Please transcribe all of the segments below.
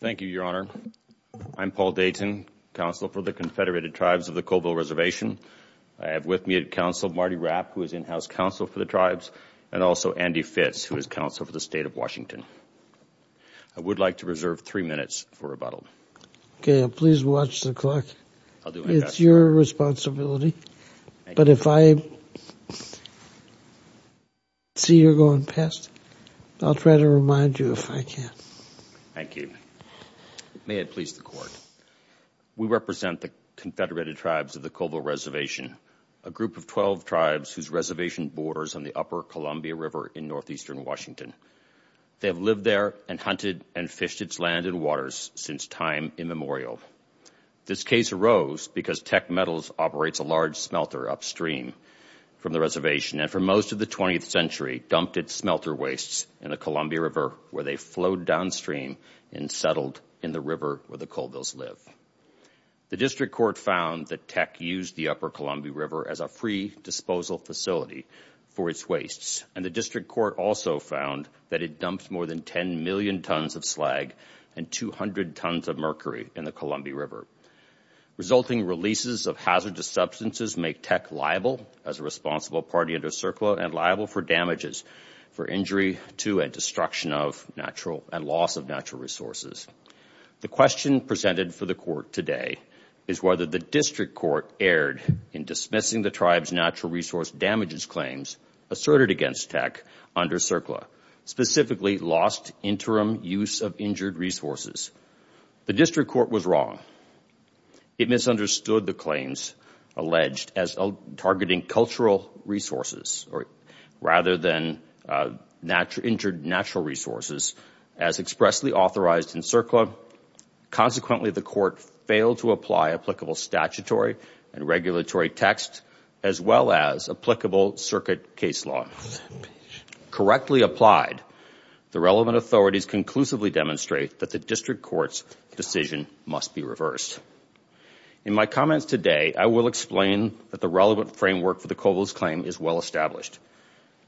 Thank you, Your Honor. I'm Paul Dayton, Counsel for the Confederated Tribes of the Colville Reservation. I have with me at Counsel Marty Rapp, who is in-house Counsel for the Tribes, and also Andy Fitz, who is Counsel for the State of Washington. I would like to reserve three minutes for rebuttal. Okay, please watch the clock. It's your responsibility. But if I see you're going past, I'll try to remind you if I can. Thank you. May it please the Court. We represent the Confederated Tribes of the Colville Reservation, a group of 12 tribes whose reservation borders on the upper Columbia River in northeastern Washington. They have lived there and hunted and fished its land and waters since time immemorial. This case arose because Teck Metals operates a large smelter upstream from the reservation and, for most of the 20th century, dumped its smelter wastes in the Columbia River, where they flowed downstream and settled in the river where the Colvilles live. The District Court found that Teck used the upper Columbia River as a free disposal facility for its wastes, and the District Court also found that it dumped more than 10 million tons of slag and 200 tons of mercury in the Columbia River. Resulting releases of hazardous substances make Teck liable, as a responsible party under CERCLA, and liable for damages for injury to and destruction of natural and loss of natural resources. The question presented for the Court today is whether the District Court erred in dismissing the Tribes' natural resource damages claims asserted against Teck under CERCLA, specifically lost interim use of injured resources. The District Court was wrong. It misunderstood the claims alleged as targeting cultural resources rather than injured natural resources as expressly authorized in CERCLA. Consequently, the Court failed to apply applicable statutory and regulatory text, as well as applicable circuit case law. Correctly applied, the relevant authorities conclusively demonstrate that the District Court's decision must be reversed. In my comments today, I will explain that the relevant framework for the Colvilles claim is well established.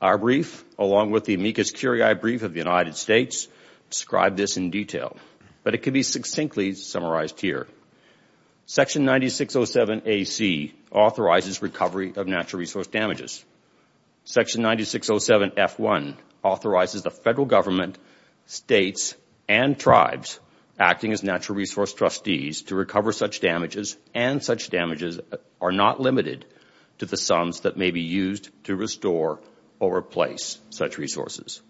Our brief, along with the amicus curiae brief of the United States, describe this in detail. But it can be succinctly summarized here. Section 9607AC authorizes recovery of natural resource damages. Section 9607F1 authorizes the Federal Government, States, and Tribes, acting as natural resource trustees, to recover such damages, and such damages are not limited to the sums that may be used to restore or replace such resources.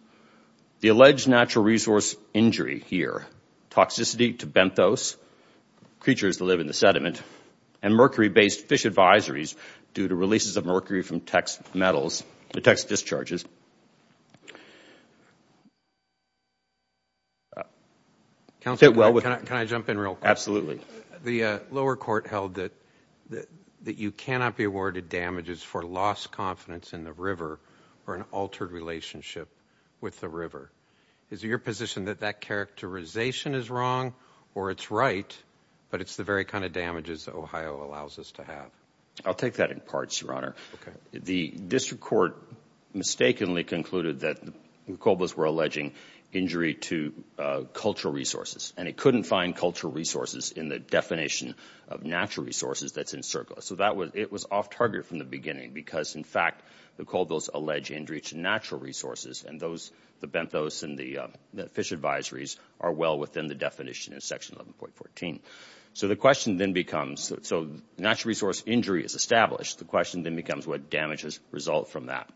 The alleged natural resource injury here, toxicity to benthos, creatures that live in the sediment, and mercury-based fish advisories due to releases of mercury from Tex metals, the Tex discharges, and the mercury-based fish advisories due to releases of mercury from Tex metals, that the Colvilles were alleging injury to cultural resources, and it couldn't find cultural resources in the definition of natural resources that's encircled. So it was off-target from the beginning because, in fact, the Colvilles allege injury to natural resources, and the benthos and the fish advisories are well within the definition of Section 11.14. So the question then becomes, so natural resource injury is established. The question then becomes what damages result from that.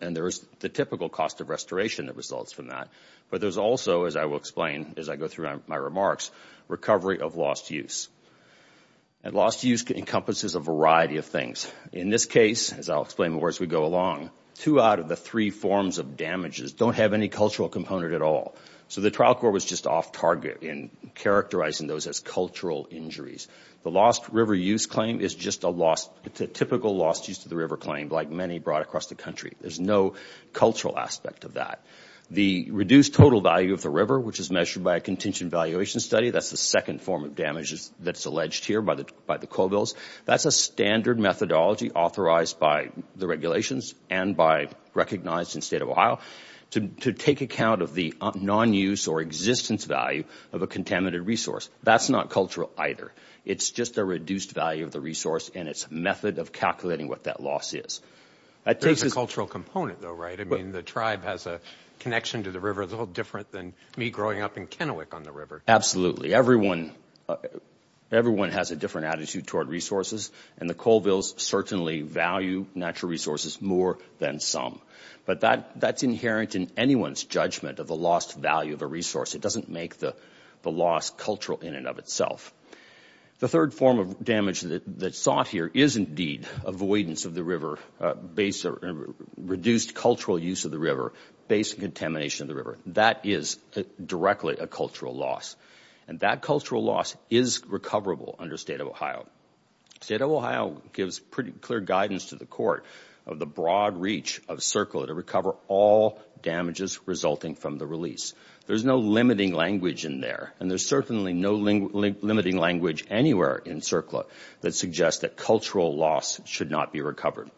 And there is the typical cost of restoration that results from that. But there's also, as I will explain as I go through my remarks, recovery of lost use. And lost use encompasses a variety of things. In this case, as I'll explain as we go along, two out of the three forms of damages don't have any cultural component at all. So the trial court was just off-target in characterizing those as cultural injuries. The lost river use claim is just a typical lost use to the river claim, like many brought across the country. There's no cultural aspect of that. The reduced total value of the river, which is measured by a contingent valuation study, that's the second form of damages that's alleged here by the Colvilles, that's a standard methodology authorized by the regulations and recognized in the State of Ohio to take account of the non-use or existence value of a contaminated resource. That's not cultural either. It's just a reduced value of the resource and its method of calculating what that loss is. There's a cultural component, though, right? I mean, the tribe has a connection to the river that's a little different than me growing up in Kennewick on the river. Absolutely. Everyone has a different attitude toward resources, and the Colvilles certainly value natural resources more than some. But that's inherent in anyone's judgment of the lost value of a resource. It doesn't make the loss cultural in and of itself. The third form of damage that's sought here is indeed avoidance of the river, reduced cultural use of the river based on contamination of the river. That is directly a cultural loss, and that cultural loss is recoverable under State of Ohio. State of Ohio gives pretty clear guidance to the court of the broad reach of CERCLA to recover all damages resulting from the release. There's no limiting language in there, and there's certainly no limiting language anywhere in CERCLA that suggests that cultural loss should not be recovered.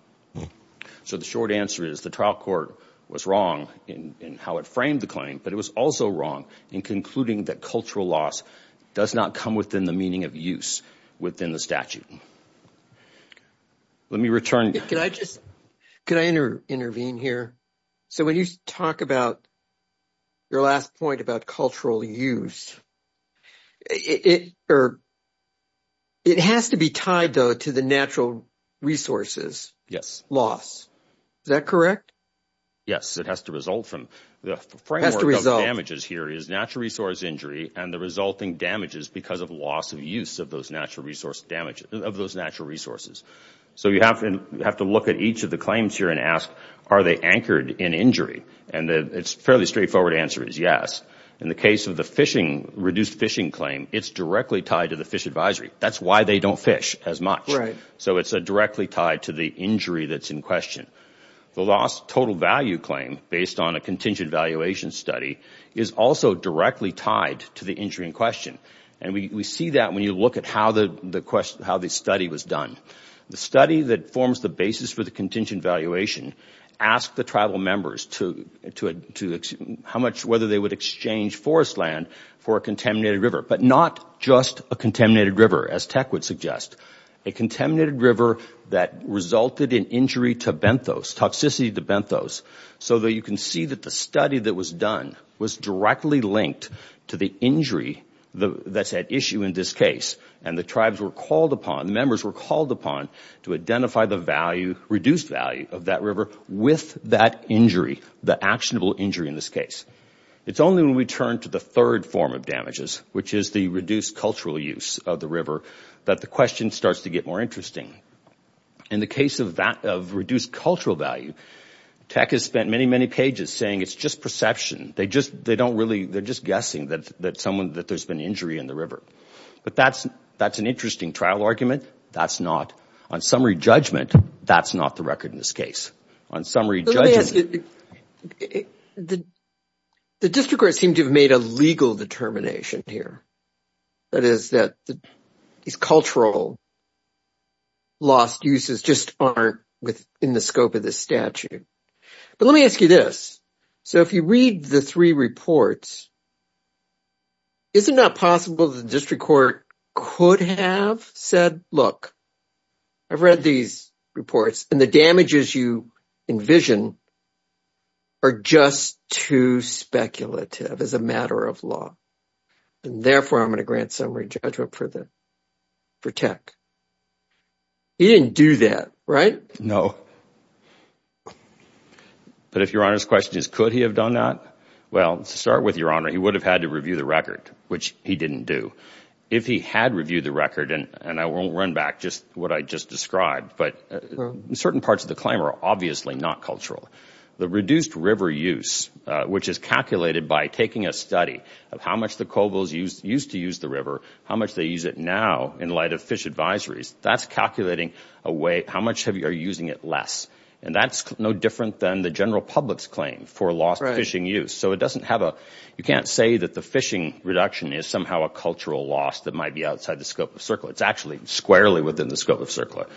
So the short answer is the trial court was wrong in how it framed the claim, but it was also wrong in concluding that cultural loss does not come within the meaning of use within the statute. Let me return. Could I intervene here? So when you talk about your last point about cultural use, it has to be tied, though, to the natural resources loss. Is that correct? Yes, it has to result from the framework of damages here is natural resource injury and the resulting damages because of loss of use of those natural resources. So you have to look at each of the claims here and ask, are they anchored in injury? And the fairly straightforward answer is yes. In the case of the reduced fishing claim, it's directly tied to the fish advisory. That's why they don't fish as much. So it's directly tied to the injury that's in question. The lost total value claim based on a contingent valuation study is also directly tied to the injury in question. And we see that when you look at how the study was done. The study that forms the basis for the contingent valuation asked the tribal members how much whether they would exchange forest land for a contaminated river, but not just a contaminated river as tech would suggest. A contaminated river that resulted in injury to benthos, toxicity to benthos, so that you can see that the study that was done was directly linked to the injury that's at issue in this case. And the tribes were called upon, the members were called upon to identify the value, reduced value of that river with that injury, the actionable injury in this case. It's only when we turn to the third form of damages, which is the reduced cultural use of the river, that the question starts to get more interesting. In the case of reduced cultural value, tech has spent many, many pages saying it's just perception. They're just guessing that there's been injury in the river. But that's an interesting trial argument. That's not, on summary judgment, that's not the record in this case. On summary judgment. Let me ask you, the district court seemed to have made a legal determination here. That is that these cultural lost uses just aren't within the scope of this statute. But let me ask you this. So if you read the three reports, is it not possible that the district court could have said, look, I've read these reports, and the damages you envision are just too speculative as a matter of law. Therefore, I'm going to grant summary judgment for tech. He didn't do that, right? No. But if Your Honor's question is could he have done that, well, to start with, Your Honor, he would have had to review the record, which he didn't do. If he had reviewed the record, and I won't run back just what I just described, but certain parts of the claim are obviously not cultural. The reduced river use, which is calculated by taking a study of how much the cobbles used to use the river, how much they use it now in light of fish advisories, that's calculating how much are you using it less. And that's no different than the general public's claim for lost fishing use. So it doesn't have a, you can't say that the fishing reduction is somehow a cultural loss that might be outside the scope of CERCLA. It's actually squarely within the scope of CERCLA.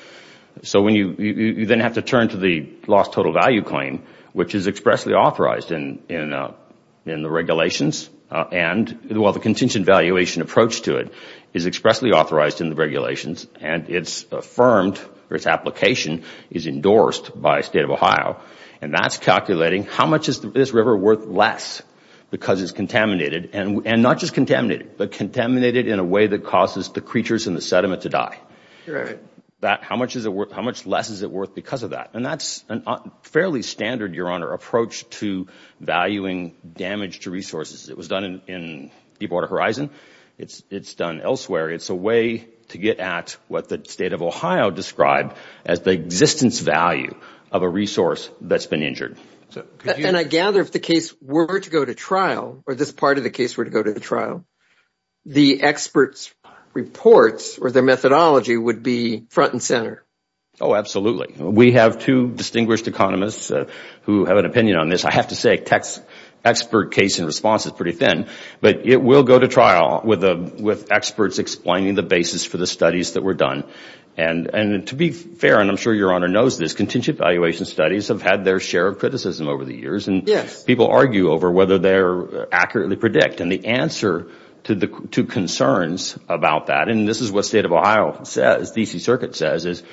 So you then have to turn to the lost total value claim, which is expressly authorized in the regulations. And while the contingent valuation approach to it is expressly authorized in the regulations and it's affirmed or its application is endorsed by the State of Ohio, and that's calculating how much is this river worth less because it's contaminated. And not just contaminated, but contaminated in a way that causes the creatures in the sediment to die. How much less is it worth because of that? And that's a fairly standard, Your Honor, approach to valuing damage to resources. It was done in Deepwater Horizon. It's done elsewhere. It's a way to get at what the State of Ohio described as the existence value of a resource that's been injured. And I gather if the case were to go to trial, or this part of the case were to go to trial, the experts' reports or their methodology would be front and center. Oh, absolutely. We have two distinguished economists who have an opinion on this. I have to say an expert case in response is pretty thin, but it will go to trial with experts explaining the basis for the studies that were done. And to be fair, and I'm sure Your Honor knows this, contingent valuation studies have had their share of criticism over the years, and people argue over whether they accurately predict. And the answer to concerns about that, and this is what State of Ohio says, the E.C. Circuit says, is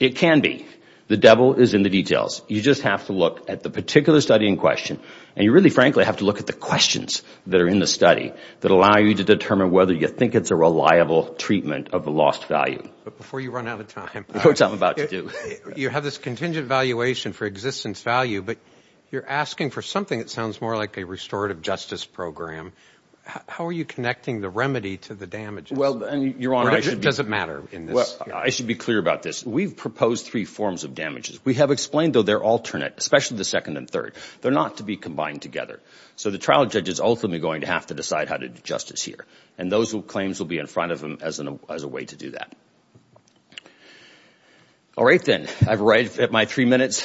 it can be. The devil is in the details. You just have to look at the particular study in question, and you really, frankly, have to look at the questions that are in the study that allow you to determine whether you think it's a reliable treatment of the lost value. But before you run out of time, which I'm about to do. You have this contingent valuation for existence value, but you're asking for something that sounds more like a restorative justice program. How are you connecting the remedy to the damages? Well, Your Honor, I should be clear about this. We've proposed three forms of damages. We have explained, though, they're alternate, especially the second and third. They're not to be combined together. So the trial judge is ultimately going to have to decide how to do justice here, and those claims will be in front of him as a way to do that. All right, then. I've arrived at my three minutes,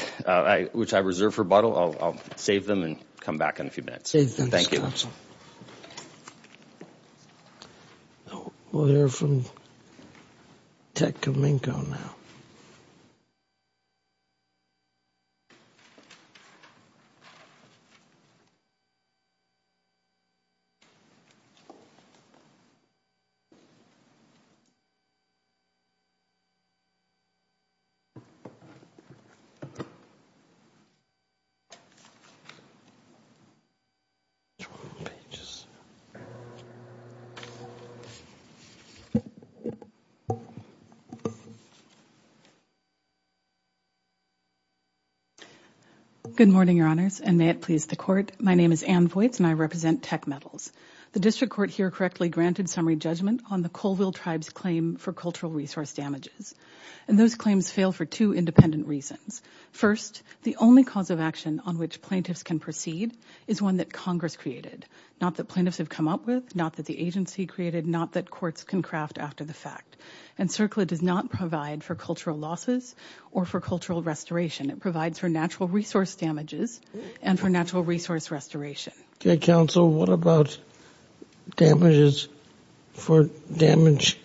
which I reserve for rebuttal. I'll save them and come back in a few minutes. Thank you. Counsel. Page. Good morning, Your Honors, and may it please the Court. My name is Ann Voights, and I represent Tech Metals. The district court here correctly granted summary judgment on the Colville Tribe's claim for cultural resource damages, and those claims fail for two independent reasons. First, the only cause of action on which plaintiffs can proceed is one that Congress created, not that plaintiffs have come up with, not that the agency created, not that courts can craft after the fact. And CERCLA does not provide for cultural losses or for cultural restoration. It provides for natural resource damages and for natural resource restoration. Counsel, what about damages for damage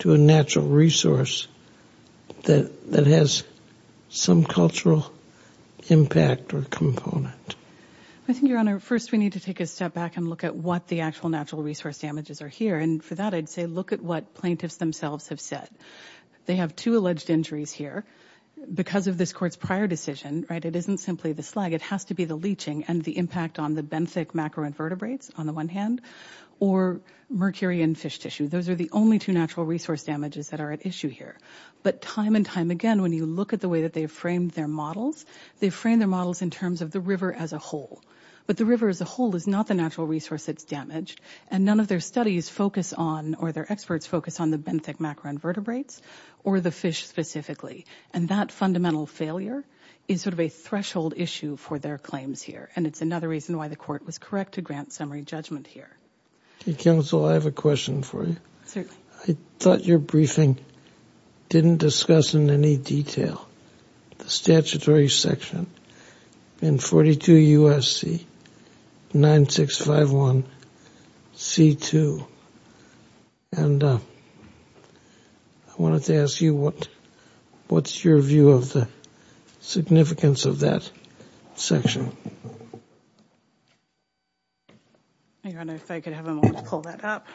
to a natural resource that has some cultural impact or component? I think, Your Honor, first we need to take a step back and look at what the actual natural resource damages are here, and for that I'd say look at what plaintiffs themselves have said. They have two alleged injuries here. Because of this Court's prior decision, right, it isn't simply the slag. It has to be the leaching and the impact on the benthic macroinvertebrates, on the one hand, or mercury and fish tissue. Those are the only two natural resource damages that are at issue here. But time and time again, when you look at the way that they've framed their models, they've framed their models in terms of the river as a whole. But the river as a whole is not the natural resource that's damaged, and none of their studies focus on, or their experts focus on, the benthic macroinvertebrates or the fish specifically. And that fundamental failure is sort of a threshold issue for their claims here, and it's another reason why the Court was correct to grant summary judgment here. Okay, Counsel, I have a question for you. Certainly. I thought your briefing didn't discuss in any detail the statutory section in 42 U.S.C. 9651 C.2. And I wanted to ask you what's your view of the significance of that section? I don't know if I could have a moment to pull that up.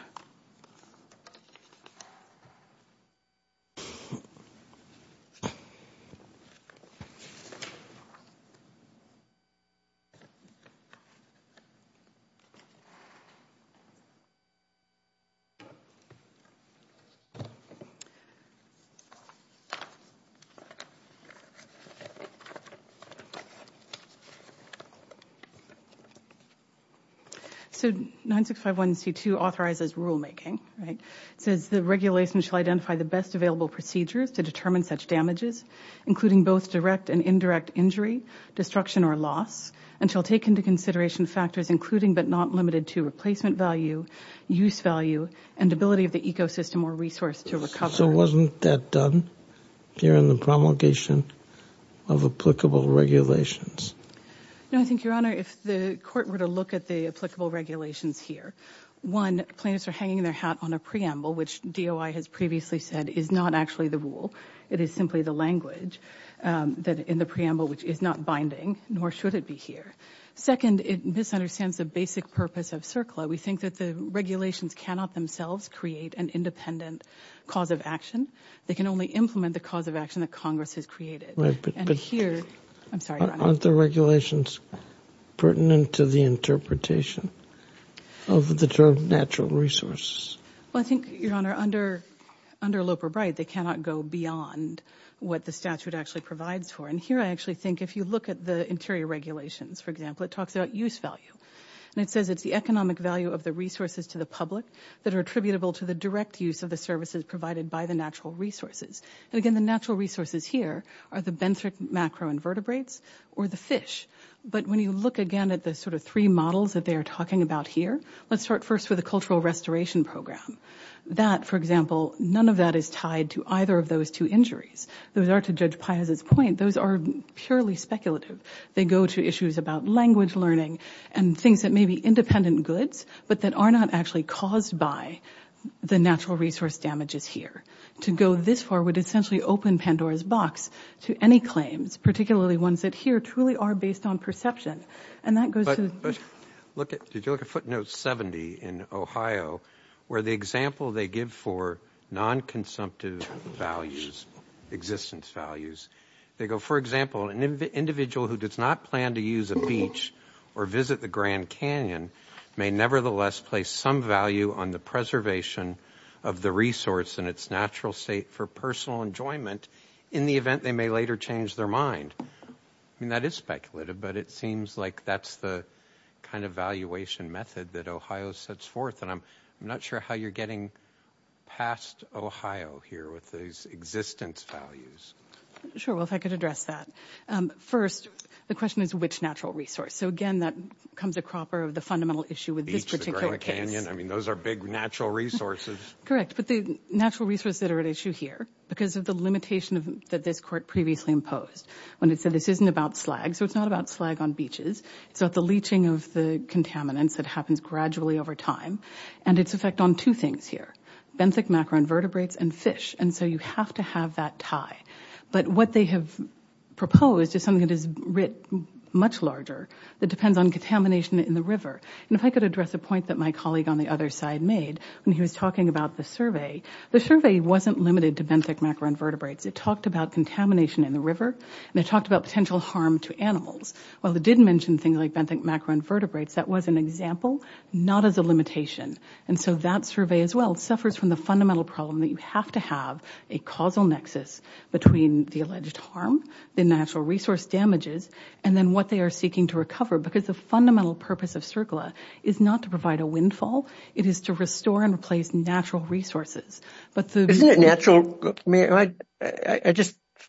So 9651 C.2 authorizes rulemaking. It says the regulation shall identify the best available procedures to determine such damages, including both direct and indirect injury, destruction or loss, and shall take into consideration factors including but not limited to replacement value, use value, and ability of the ecosystem or resource to recover. Counsel, wasn't that done here in the promulgation of applicable regulations? No, I think, Your Honor, if the Court were to look at the applicable regulations here, one, plaintiffs are hanging their hat on a preamble, which DOI has previously said is not actually the rule. It is simply the language in the preamble, which is not binding, nor should it be here. Second, it misunderstands the basic purpose of CERCLA. We think that the regulations cannot themselves create an independent cause of action. They can only implement the cause of action that Congress has created. But aren't the regulations pertinent to the interpretation of the term natural resources? Well, I think, Your Honor, under Loper-Bright, they cannot go beyond what the statute actually provides for. And here I actually think if you look at the interior regulations, for example, it talks about use value. And it says it's the economic value of the resources to the public that are attributable to the direct use of the services provided by the natural resources. And again, the natural resources here are the benthic macroinvertebrates or the fish. But when you look again at the sort of three models that they are talking about here, let's start first with the cultural restoration program. That, for example, none of that is tied to either of those two injuries. Those are, to Judge Piazza's point, those are purely speculative. They go to issues about language learning and things that may be independent goods but that are not actually caused by the natural resource damages here. To go this far would essentially open Pandora's box to any claims, particularly ones that here truly are based on perception. And that goes to the- But did you look at footnote 70 in Ohio where the example they give for non-consumptive values, existence values, they go, for example, an individual who does not plan to use a beach or visit the Grand Canyon may nevertheless place some value on the preservation of the resource and its natural state for personal enjoyment in the event they may later change their mind. I mean, that is speculative, but it seems like that's the kind of valuation method that Ohio sets forth. And I'm not sure how you're getting past Ohio here with these existence values. Sure. Well, if I could address that. First, the question is which natural resource. So, again, that comes a cropper of the fundamental issue with this particular case. Beach, the Grand Canyon. I mean, those are big natural resources. Correct. But the natural resources that are at issue here, because of the limitation that this court previously imposed when it said this isn't about slag. So it's not about slag on beaches. It's about the leaching of the contaminants that happens gradually over time. And it's effect on two things here, benthic macroinvertebrates and fish. And so you have to have that tie. But what they have proposed is something that is writ much larger that depends on contamination in the river. And if I could address a point that my colleague on the other side made when he was talking about the survey, the survey wasn't limited to benthic macroinvertebrates. It talked about contamination in the river, and it talked about potential harm to animals. While it did mention things like benthic macroinvertebrates, that was an example, not as a limitation. And so that survey as well suffers from the fundamental problem that you have to have a causal nexus between the alleged harm, the natural resource damages, and then what they are seeking to recover. Because the fundamental purpose of CERCLA is not to provide a windfall. It is to restore and replace natural resources. Isn't it natural?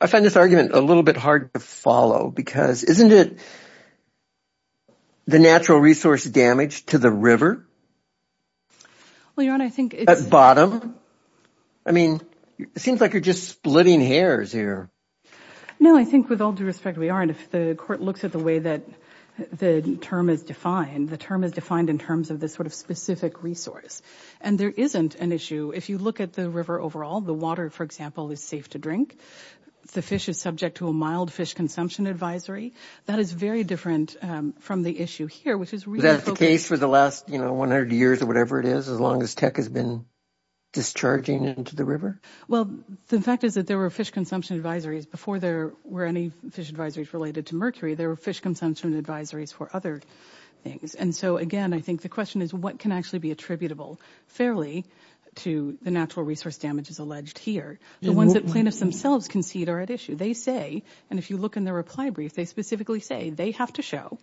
I find this argument a little bit hard to follow because isn't it the natural resource damage to the river? At bottom? I mean, it seems like you're just splitting hairs here. No, I think with all due respect we are, and if the court looks at the way that the term is defined, the term is defined in terms of this sort of specific resource. And there isn't an issue. If you look at the river overall, the water, for example, is safe to drink. The fish is subject to a mild fish consumption advisory. That is very different from the issue here, which is really focused. Is that the case for the last 100 years or whatever it is, as long as tech has been discharging into the river? Well, the fact is that there were fish consumption advisories before there were any fish advisories related to mercury. There were fish consumption advisories for other things. And so, again, I think the question is what can actually be attributable fairly to the natural resource damages alleged here. The ones that plaintiffs themselves concede are at issue. They say, and if you look in their reply brief, they specifically say they have to show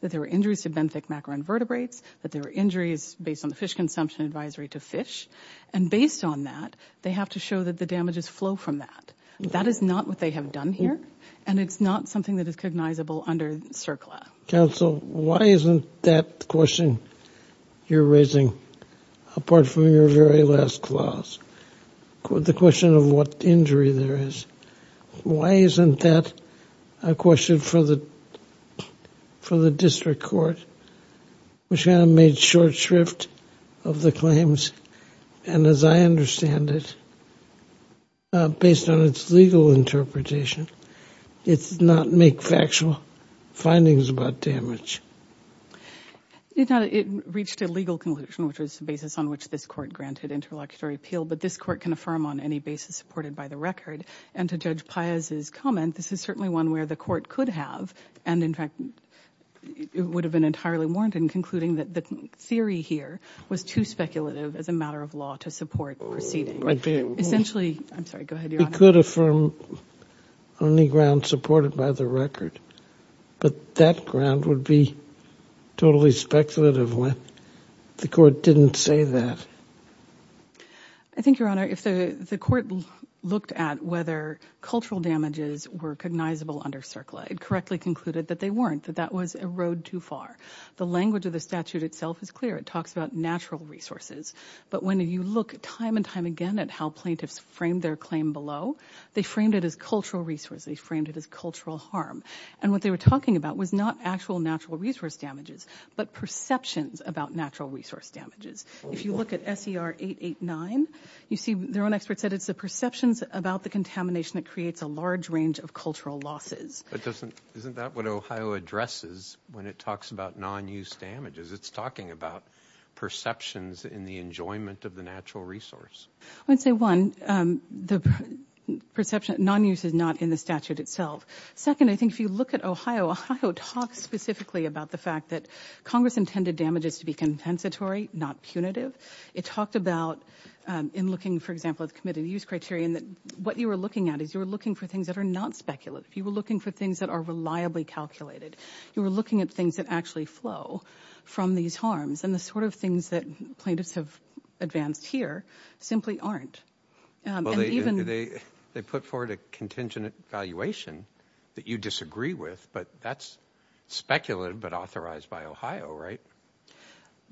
that there were injuries to benthic macroinvertebrates, that there were injuries based on the fish consumption advisory to fish. And based on that, they have to show that the damages flow from that. That is not what they have done here, and it's not something that is cognizable under CERCLA. Counsel, why isn't that question you're raising, apart from your very last clause, the question of what injury there is, why isn't that a question for the district court, which kind of made short shrift of the claims, and as I understand it, based on its legal interpretation, it does not make factual findings about damage. It reached a legal conclusion, which was the basis on which this court granted interlocutory appeal, but this court can affirm on any basis supported by the record. And to Judge Paez's comment, this is certainly one where the court could have, and in fact, it would have been entirely warranted in concluding that the theory here was too speculative as a matter of law to support proceedings. Essentially, I'm sorry, go ahead, Your Honor. We could affirm on the ground supported by the record, but that ground would be totally speculative when the court didn't say that. I think, Your Honor, if the court looked at whether cultural damages were cognizable under CERCLA, it correctly concluded that they weren't, that that was a road too far. The language of the statute itself is clear. It talks about natural resources, but when you look time and time again at how plaintiffs framed their claim below, they framed it as cultural resources, they framed it as cultural harm, and what they were talking about was not actual natural resource damages, but perceptions about natural resource damages. If you look at SER 889, you see their own experts said it's the perceptions about the contamination that creates a large range of cultural losses. But doesn't, isn't that what Ohio addresses when it talks about non-use damages? It's talking about perceptions in the enjoyment of the natural resource. I would say, one, the perception, non-use is not in the statute itself. Second, I think if you look at Ohio, Ohio talks specifically about the fact that Congress intended damages to be compensatory, not punitive. It talked about, in looking, for example, at the committed use criterion, that what you were looking at is you were looking for things that are not speculative. You were looking for things that are reliably calculated. You were looking at things that actually flow from these harms, and the sort of things that plaintiffs have advanced here simply aren't. Well, they put forward a contingent evaluation that you disagree with, but that's speculative but authorized by Ohio, right?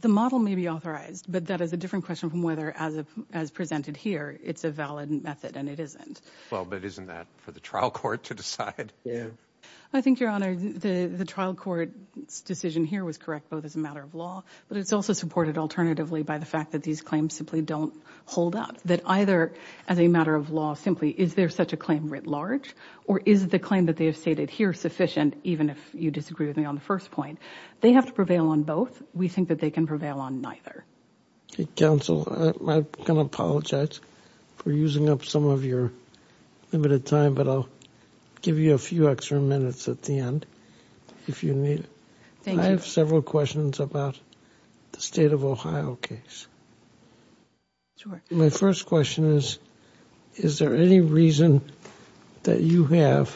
The model may be authorized, but that is a different question from whether, as presented here, it's a valid method, and it isn't. Well, but isn't that for the trial court to decide? I think, Your Honor, the trial court's decision here was correct, both as a matter of law, but it's also supported alternatively by the fact that these claims simply don't hold up, that either, as a matter of law, simply is there such a claim writ large, or is the claim that they have stated here sufficient, even if you disagree with me on the first point? They have to prevail on both. We think that they can prevail on neither. Counsel, I'm going to apologize for using up some of your limited time, but I'll give you a few extra minutes at the end if you need. Thank you. I have several questions about the State of Ohio case. Sure. My first question is, is there any reason that you have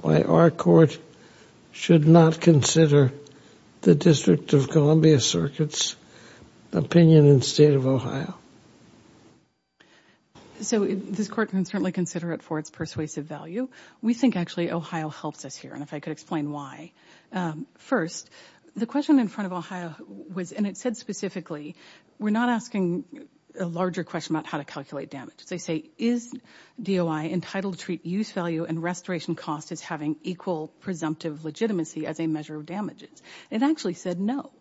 why our court should not consider the District of Columbia Circuit's opinion in the State of Ohio? So this court can certainly consider it for its persuasive value. We think, actually, Ohio helps us here, and if I could explain why. First, the question in front of Ohio was, and it said specifically, we're not asking a larger question about how to calculate damage. They say, is DOI entitled to treat use value and restoration cost as having equal presumptive legitimacy as a measure of damages? It actually said no.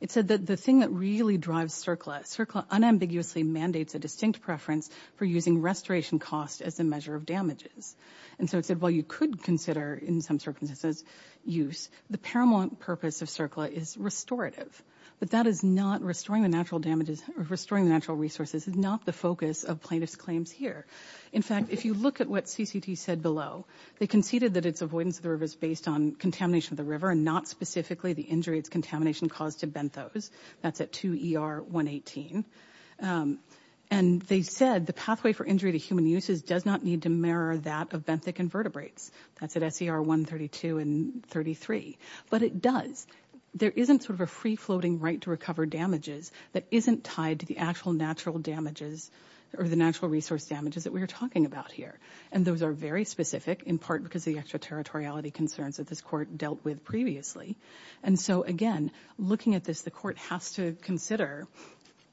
It said that the thing that really drives CERCLA, CERCLA unambiguously mandates a distinct preference for using restoration cost as a measure of damages. And so it said, while you could consider in some circumstances use, the paramount purpose of CERCLA is restorative, but that is not restoring the natural resources, is not the focus of plaintiff's claims here. In fact, if you look at what CCT said below, they conceded that its avoidance of the river is based on contamination of the river and not specifically the injury it's contamination caused to benthos. That's at 2 ER 118. And they said the pathway for injury to human uses does not need to mirror that of benthic invertebrates. That's at SCR 132 and 33. But it does. There isn't sort of a free-floating right to recover damages that isn't tied to the actual natural damages or the natural resource damages that we are talking about here. And those are very specific in part because the extraterritoriality concerns that this court dealt with previously. And so, again, looking at this, the court has to consider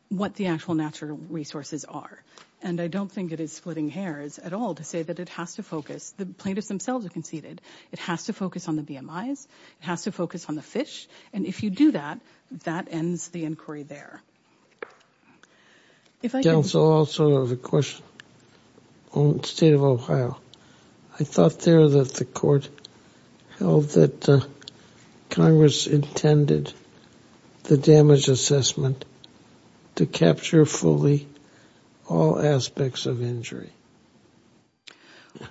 what the actual natural resources are. And I don't think it is splitting hairs at all to say that it has to focus. The plaintiffs themselves have conceded. It has to focus on the BMIs. It has to focus on the fish. And if you do that, that ends the inquiry there. Counsel, I also have a question on the state of Ohio. I thought there that the court held that Congress intended the damage assessment to capture fully all aspects of injury.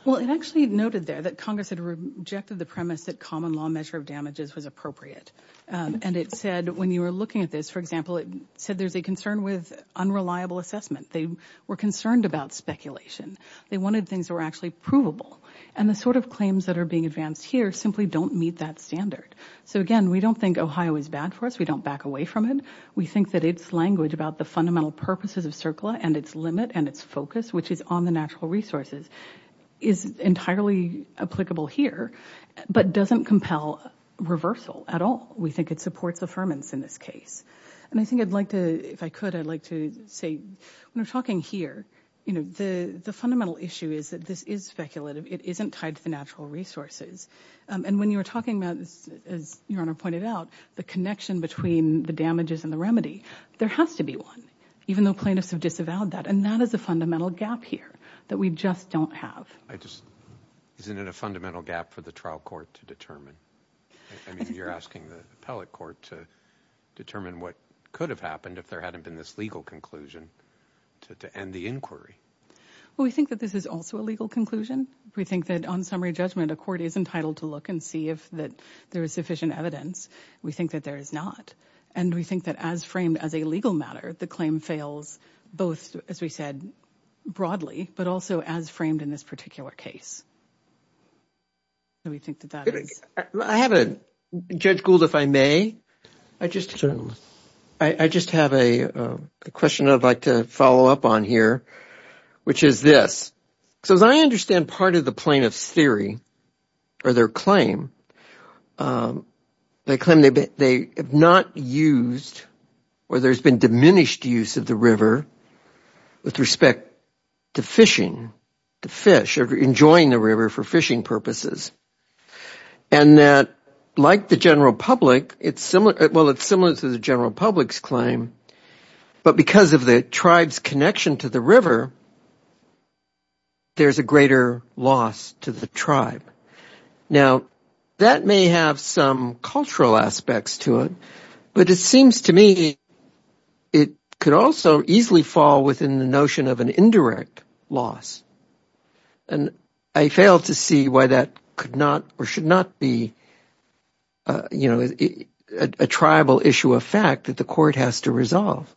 Well, it actually noted there that Congress had rejected the premise that common law measure of damages was appropriate. And it said when you were looking at this, for example, it said there's a concern with unreliable assessment. They were concerned about speculation. They wanted things that were actually provable. And the sort of claims that are being advanced here simply don't meet that standard. So, again, we don't think Ohio is bad for us. We don't back away from it. We think that its language about the fundamental purposes of CERCLA and its limit and its focus, which is on the natural resources, is entirely applicable here but doesn't compel reversal at all. We think it supports affirmance in this case. And I think I'd like to, if I could, I'd like to say, when we're talking here, you know, the fundamental issue is that this is speculative. It isn't tied to the natural resources. And when you're talking about, as Your Honor pointed out, the connection between the damages and the remedy, there has to be one, even though plaintiffs have disavowed that. And that is a fundamental gap here that we just don't have. Isn't it a fundamental gap for the trial court to determine? I mean, you're asking the appellate court to determine what could have happened if there hadn't been this legal conclusion to end the inquiry. Well, we think that this is also a legal conclusion. We think that on summary judgment, a court is entitled to look and see if there is sufficient evidence. We think that there is not. And we think that as framed as a legal matter, the claim fails both, as we said, broadly, but also as framed in this particular case. We think that that is. I have a, Judge Gould, if I may. Certainly. I just have a question I'd like to follow up on here, which is this. So as I understand part of the plaintiff's theory or their claim, they claim they have not used or there's been diminished use of the river with respect to fishing, to fish, or enjoying the river for fishing purposes, and that like the general public, well, it's similar to the general public's claim, but because of the tribe's connection to the river, there's a greater loss to the tribe. Now, that may have some cultural aspects to it, but it seems to me it could also easily fall within the notion of an indirect loss. And I fail to see why that could not or should not be, you know, a tribal issue of fact that the court has to resolve.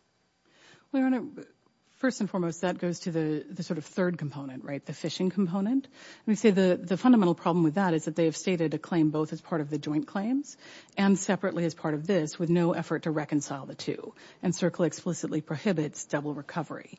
Well, Your Honor, first and foremost, that goes to the sort of third component, right, the fishing component. And we say the fundamental problem with that is that they have stated a claim both as part of the joint claims and separately as part of this, with no effort to reconcile the two. And CERCLA explicitly prohibits double recovery.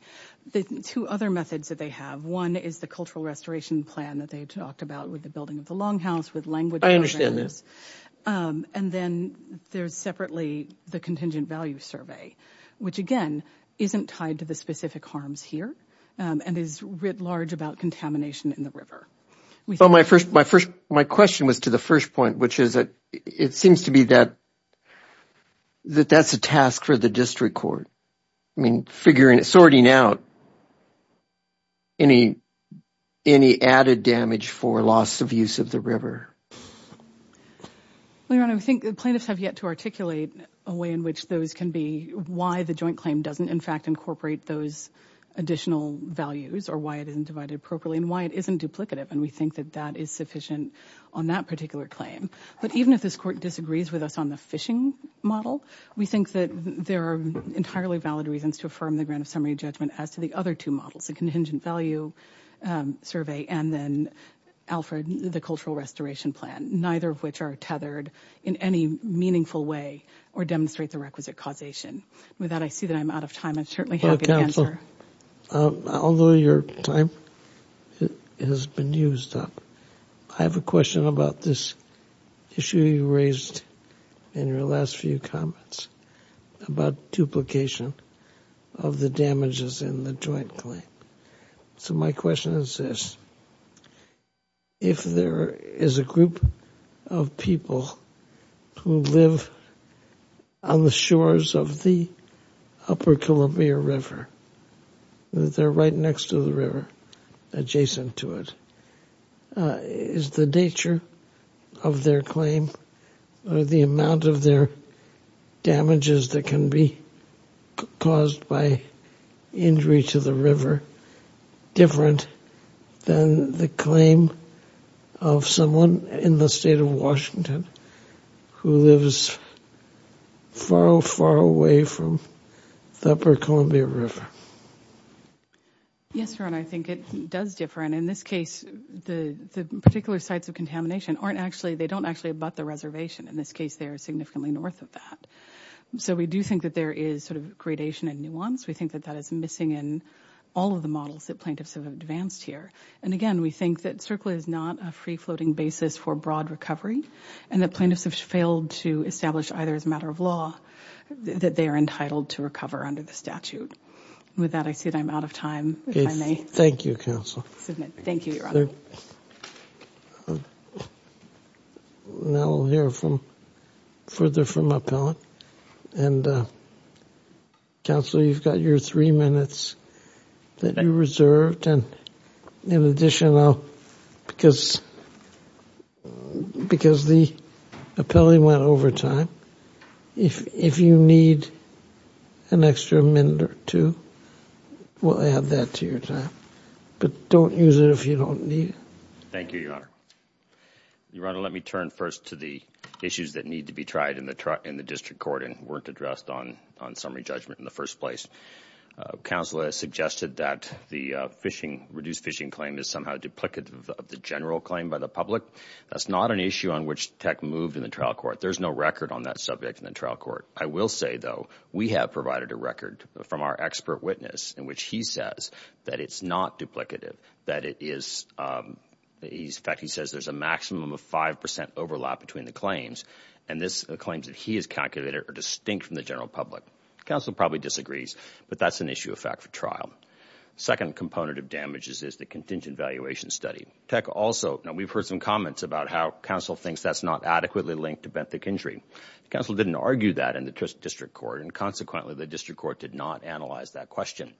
The two other methods that they have, one is the cultural restoration plan that they talked about with the building of the longhouse with language barriers. I understand that. And then there's separately the contingent value survey, which again isn't tied to the specific harms here and is writ large about contamination in the river. Well, my question was to the first point, which is that it seems to be that that's a task for the district court. I mean, figuring, sorting out any added damage for loss of use of the river. Your Honor, I think the plaintiffs have yet to articulate a way in which those can be why the joint claim doesn't in fact incorporate those additional values or why it isn't divided appropriately and why it isn't duplicative. And we think that that is sufficient on that particular claim. But even if this court disagrees with us on the fishing model, we think that there are entirely valid reasons to affirm the grant of summary judgment as to the other two models, the contingent value survey and then Alfred, the cultural restoration plan, neither of which are tethered in any meaningful way or demonstrate the requisite causation. With that, I see that I'm out of time. I'm certainly happy to answer. Counsel, although your time has been used up, I have a question about this issue you raised in your last few comments about duplication of the damages in the joint claim. So my question is this. If there is a group of people who live on the shores of the upper Columbia River, they're right next to the river, adjacent to it. Is the nature of their claim or the amount of their damages that can be caused by injury to the river different than the claim of someone in the state of Washington who lives far, far away from the upper Columbia River? Yes, Your Honor, I think it does differ. And in this case, the particular sites of contamination aren't actually, they don't actually abut the reservation. In this case, they are significantly north of that. So we do think that there is sort of gradation and nuance. We think that that is missing in all of the models that plaintiffs have advanced here. And again, we think that CERCLA is not a free-floating basis for broad recovery. And the plaintiffs have failed to establish either as a matter of law that they are entitled to recover under the statute. With that, I see that I'm out of time, if I may. Thank you, Counsel. Thank you, Your Honor. Now we'll hear from, further from Appellant. And Counsel, you've got your three minutes that you reserved. And in addition, because the appellee went over time, if you need an extra minute or two, we'll add that to your time. But don't use it if you don't need it. Thank you, Your Honor. Your Honor, let me turn first to the issues that need to be tried in the district court and weren't addressed on summary judgment in the first place. Counsel has suggested that the fishing, reduced fishing claim, is somehow duplicative of the general claim by the public. That's not an issue on which Tech moved in the trial court. There's no record on that subject in the trial court. I will say, though, we have provided a record from our expert witness in which he says that it's not duplicative, that it is, in fact, he says there's a maximum of 5% overlap between the claims. And the claims that he has calculated are distinct from the general public. Counsel probably disagrees, but that's an issue of fact for trial. The second component of damages is the contingent valuation study. Tech also, and we've heard some comments about how counsel thinks that's not adequately linked to benthic injury. Counsel didn't argue that in the district court, and consequently the district court did not analyze that question.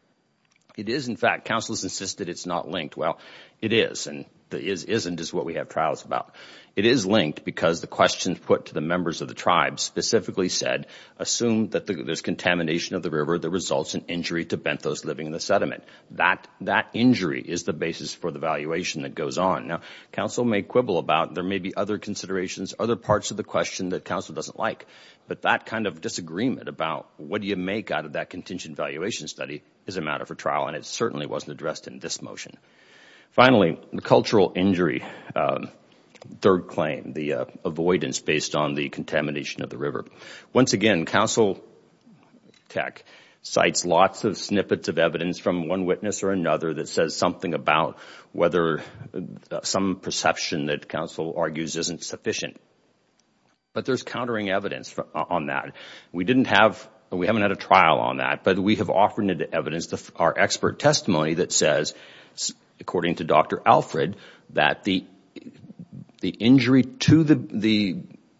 It is, in fact, counsel has insisted it's not linked. Well, it is, and the is-isn't is what we have trials about. It is linked because the questions put to the members of the tribe specifically said assume that there's contamination of the river that results in injury to benthos living in the sediment. That injury is the basis for the valuation that goes on. Now, counsel may quibble about there may be other considerations, other parts of the question that counsel doesn't like, but that kind of disagreement about what do you make out of that contingent valuation study is a matter for trial, and it certainly wasn't addressed in this motion. Finally, the cultural injury, third claim, the avoidance based on the contamination of the river. Once again, counsel, Tech, cites lots of snippets of evidence from one witness or another that says something about whether some perception that counsel argues isn't sufficient. But there's countering evidence on that. We didn't have, we haven't had a trial on that, but we have offered evidence, our expert testimony that says, according to Dr. Alfred, that the injury to the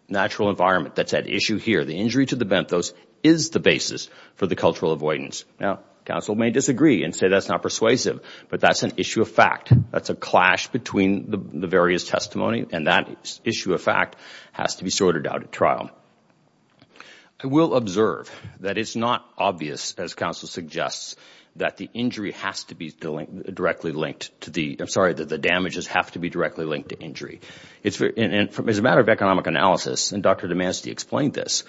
natural environment that's at issue here, the injury to the benthos, is the basis for the cultural avoidance. Now, counsel may disagree and say that's not persuasive, but that's an issue of fact. That's a clash between the various testimony, and that issue of fact has to be sorted out at trial. I will observe that it's not obvious, as counsel suggests, that the injury has to be directly linked to the, I'm sorry, that the damages have to be directly linked to injury. It's a matter of economic analysis, and Dr. DeMasti explained this.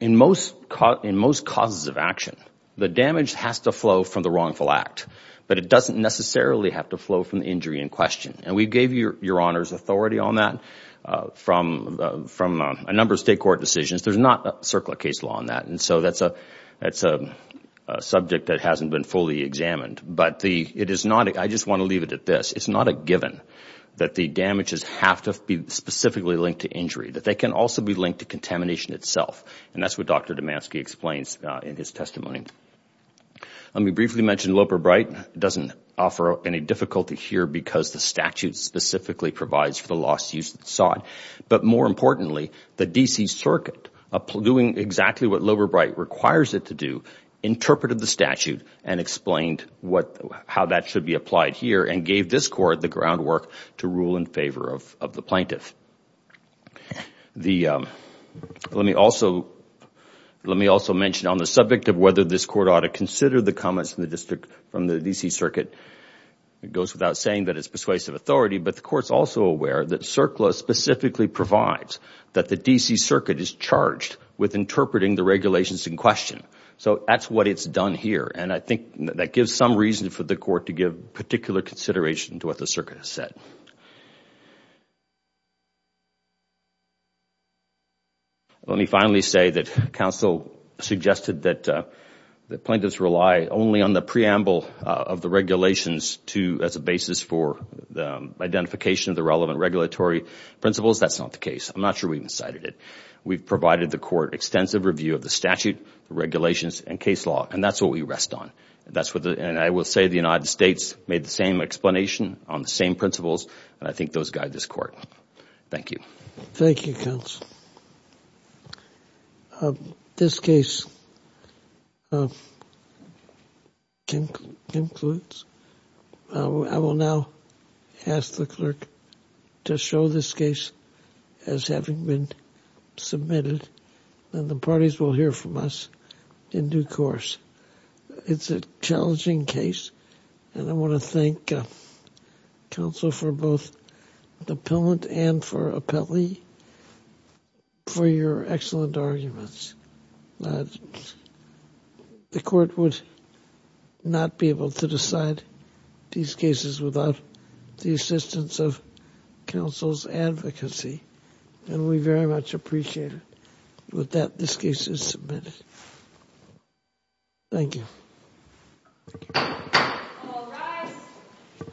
In most causes of action, the damage has to flow from the wrongful act, but it doesn't necessarily have to flow from the injury in question. And we gave your honors authority on that from a number of state court decisions. There's not a circular case law on that, and so that's a subject that hasn't been fully examined. But it is not, I just want to leave it at this, it's not a given that the damages have to be specifically linked to injury, that they can also be linked to contamination itself, and that's what Dr. DeMasti explains in his testimony. Let me briefly mention Loeb or Bright. It doesn't offer any difficulty here because the statute specifically provides for the lawsuits sought. But more importantly, the D.C. Circuit, doing exactly what Loeb or Bright requires it to do, interpreted the statute and explained how that should be applied here and gave this court the groundwork to rule in favor of the plaintiff. Let me also mention on the subject of whether this court ought to consider the comments from the D.C. Circuit. It goes without saying that it's persuasive authority, but the court's also aware that CERCLA specifically provides that the D.C. Circuit is charged with interpreting the regulations in question. So that's what it's done here, and I think that gives some reason for the court to give particular consideration to what the circuit has said. Let me finally say that counsel suggested that plaintiffs rely only on the preamble of the regulations as a basis for the identification of the relevant regulatory principles. That's not the case. I'm not sure we've cited it. We've provided the court extensive review of the statute, regulations, and case law, and that's what we rest on. And I will say the United States made the same explanation on the same principles, and I think those guide this court. Thank you. Thank you, counsel. This case concludes. I will now ask the clerk to show this case as having been submitted, and the parties will hear from us in due course. It's a challenging case, and I want to thank counsel for both the appellant and for appellee for your excellent arguments. The court would not be able to decide these cases without the assistance of counsel's advocacy, and we very much appreciate it. With that, this case is submitted. Thank you. All rise.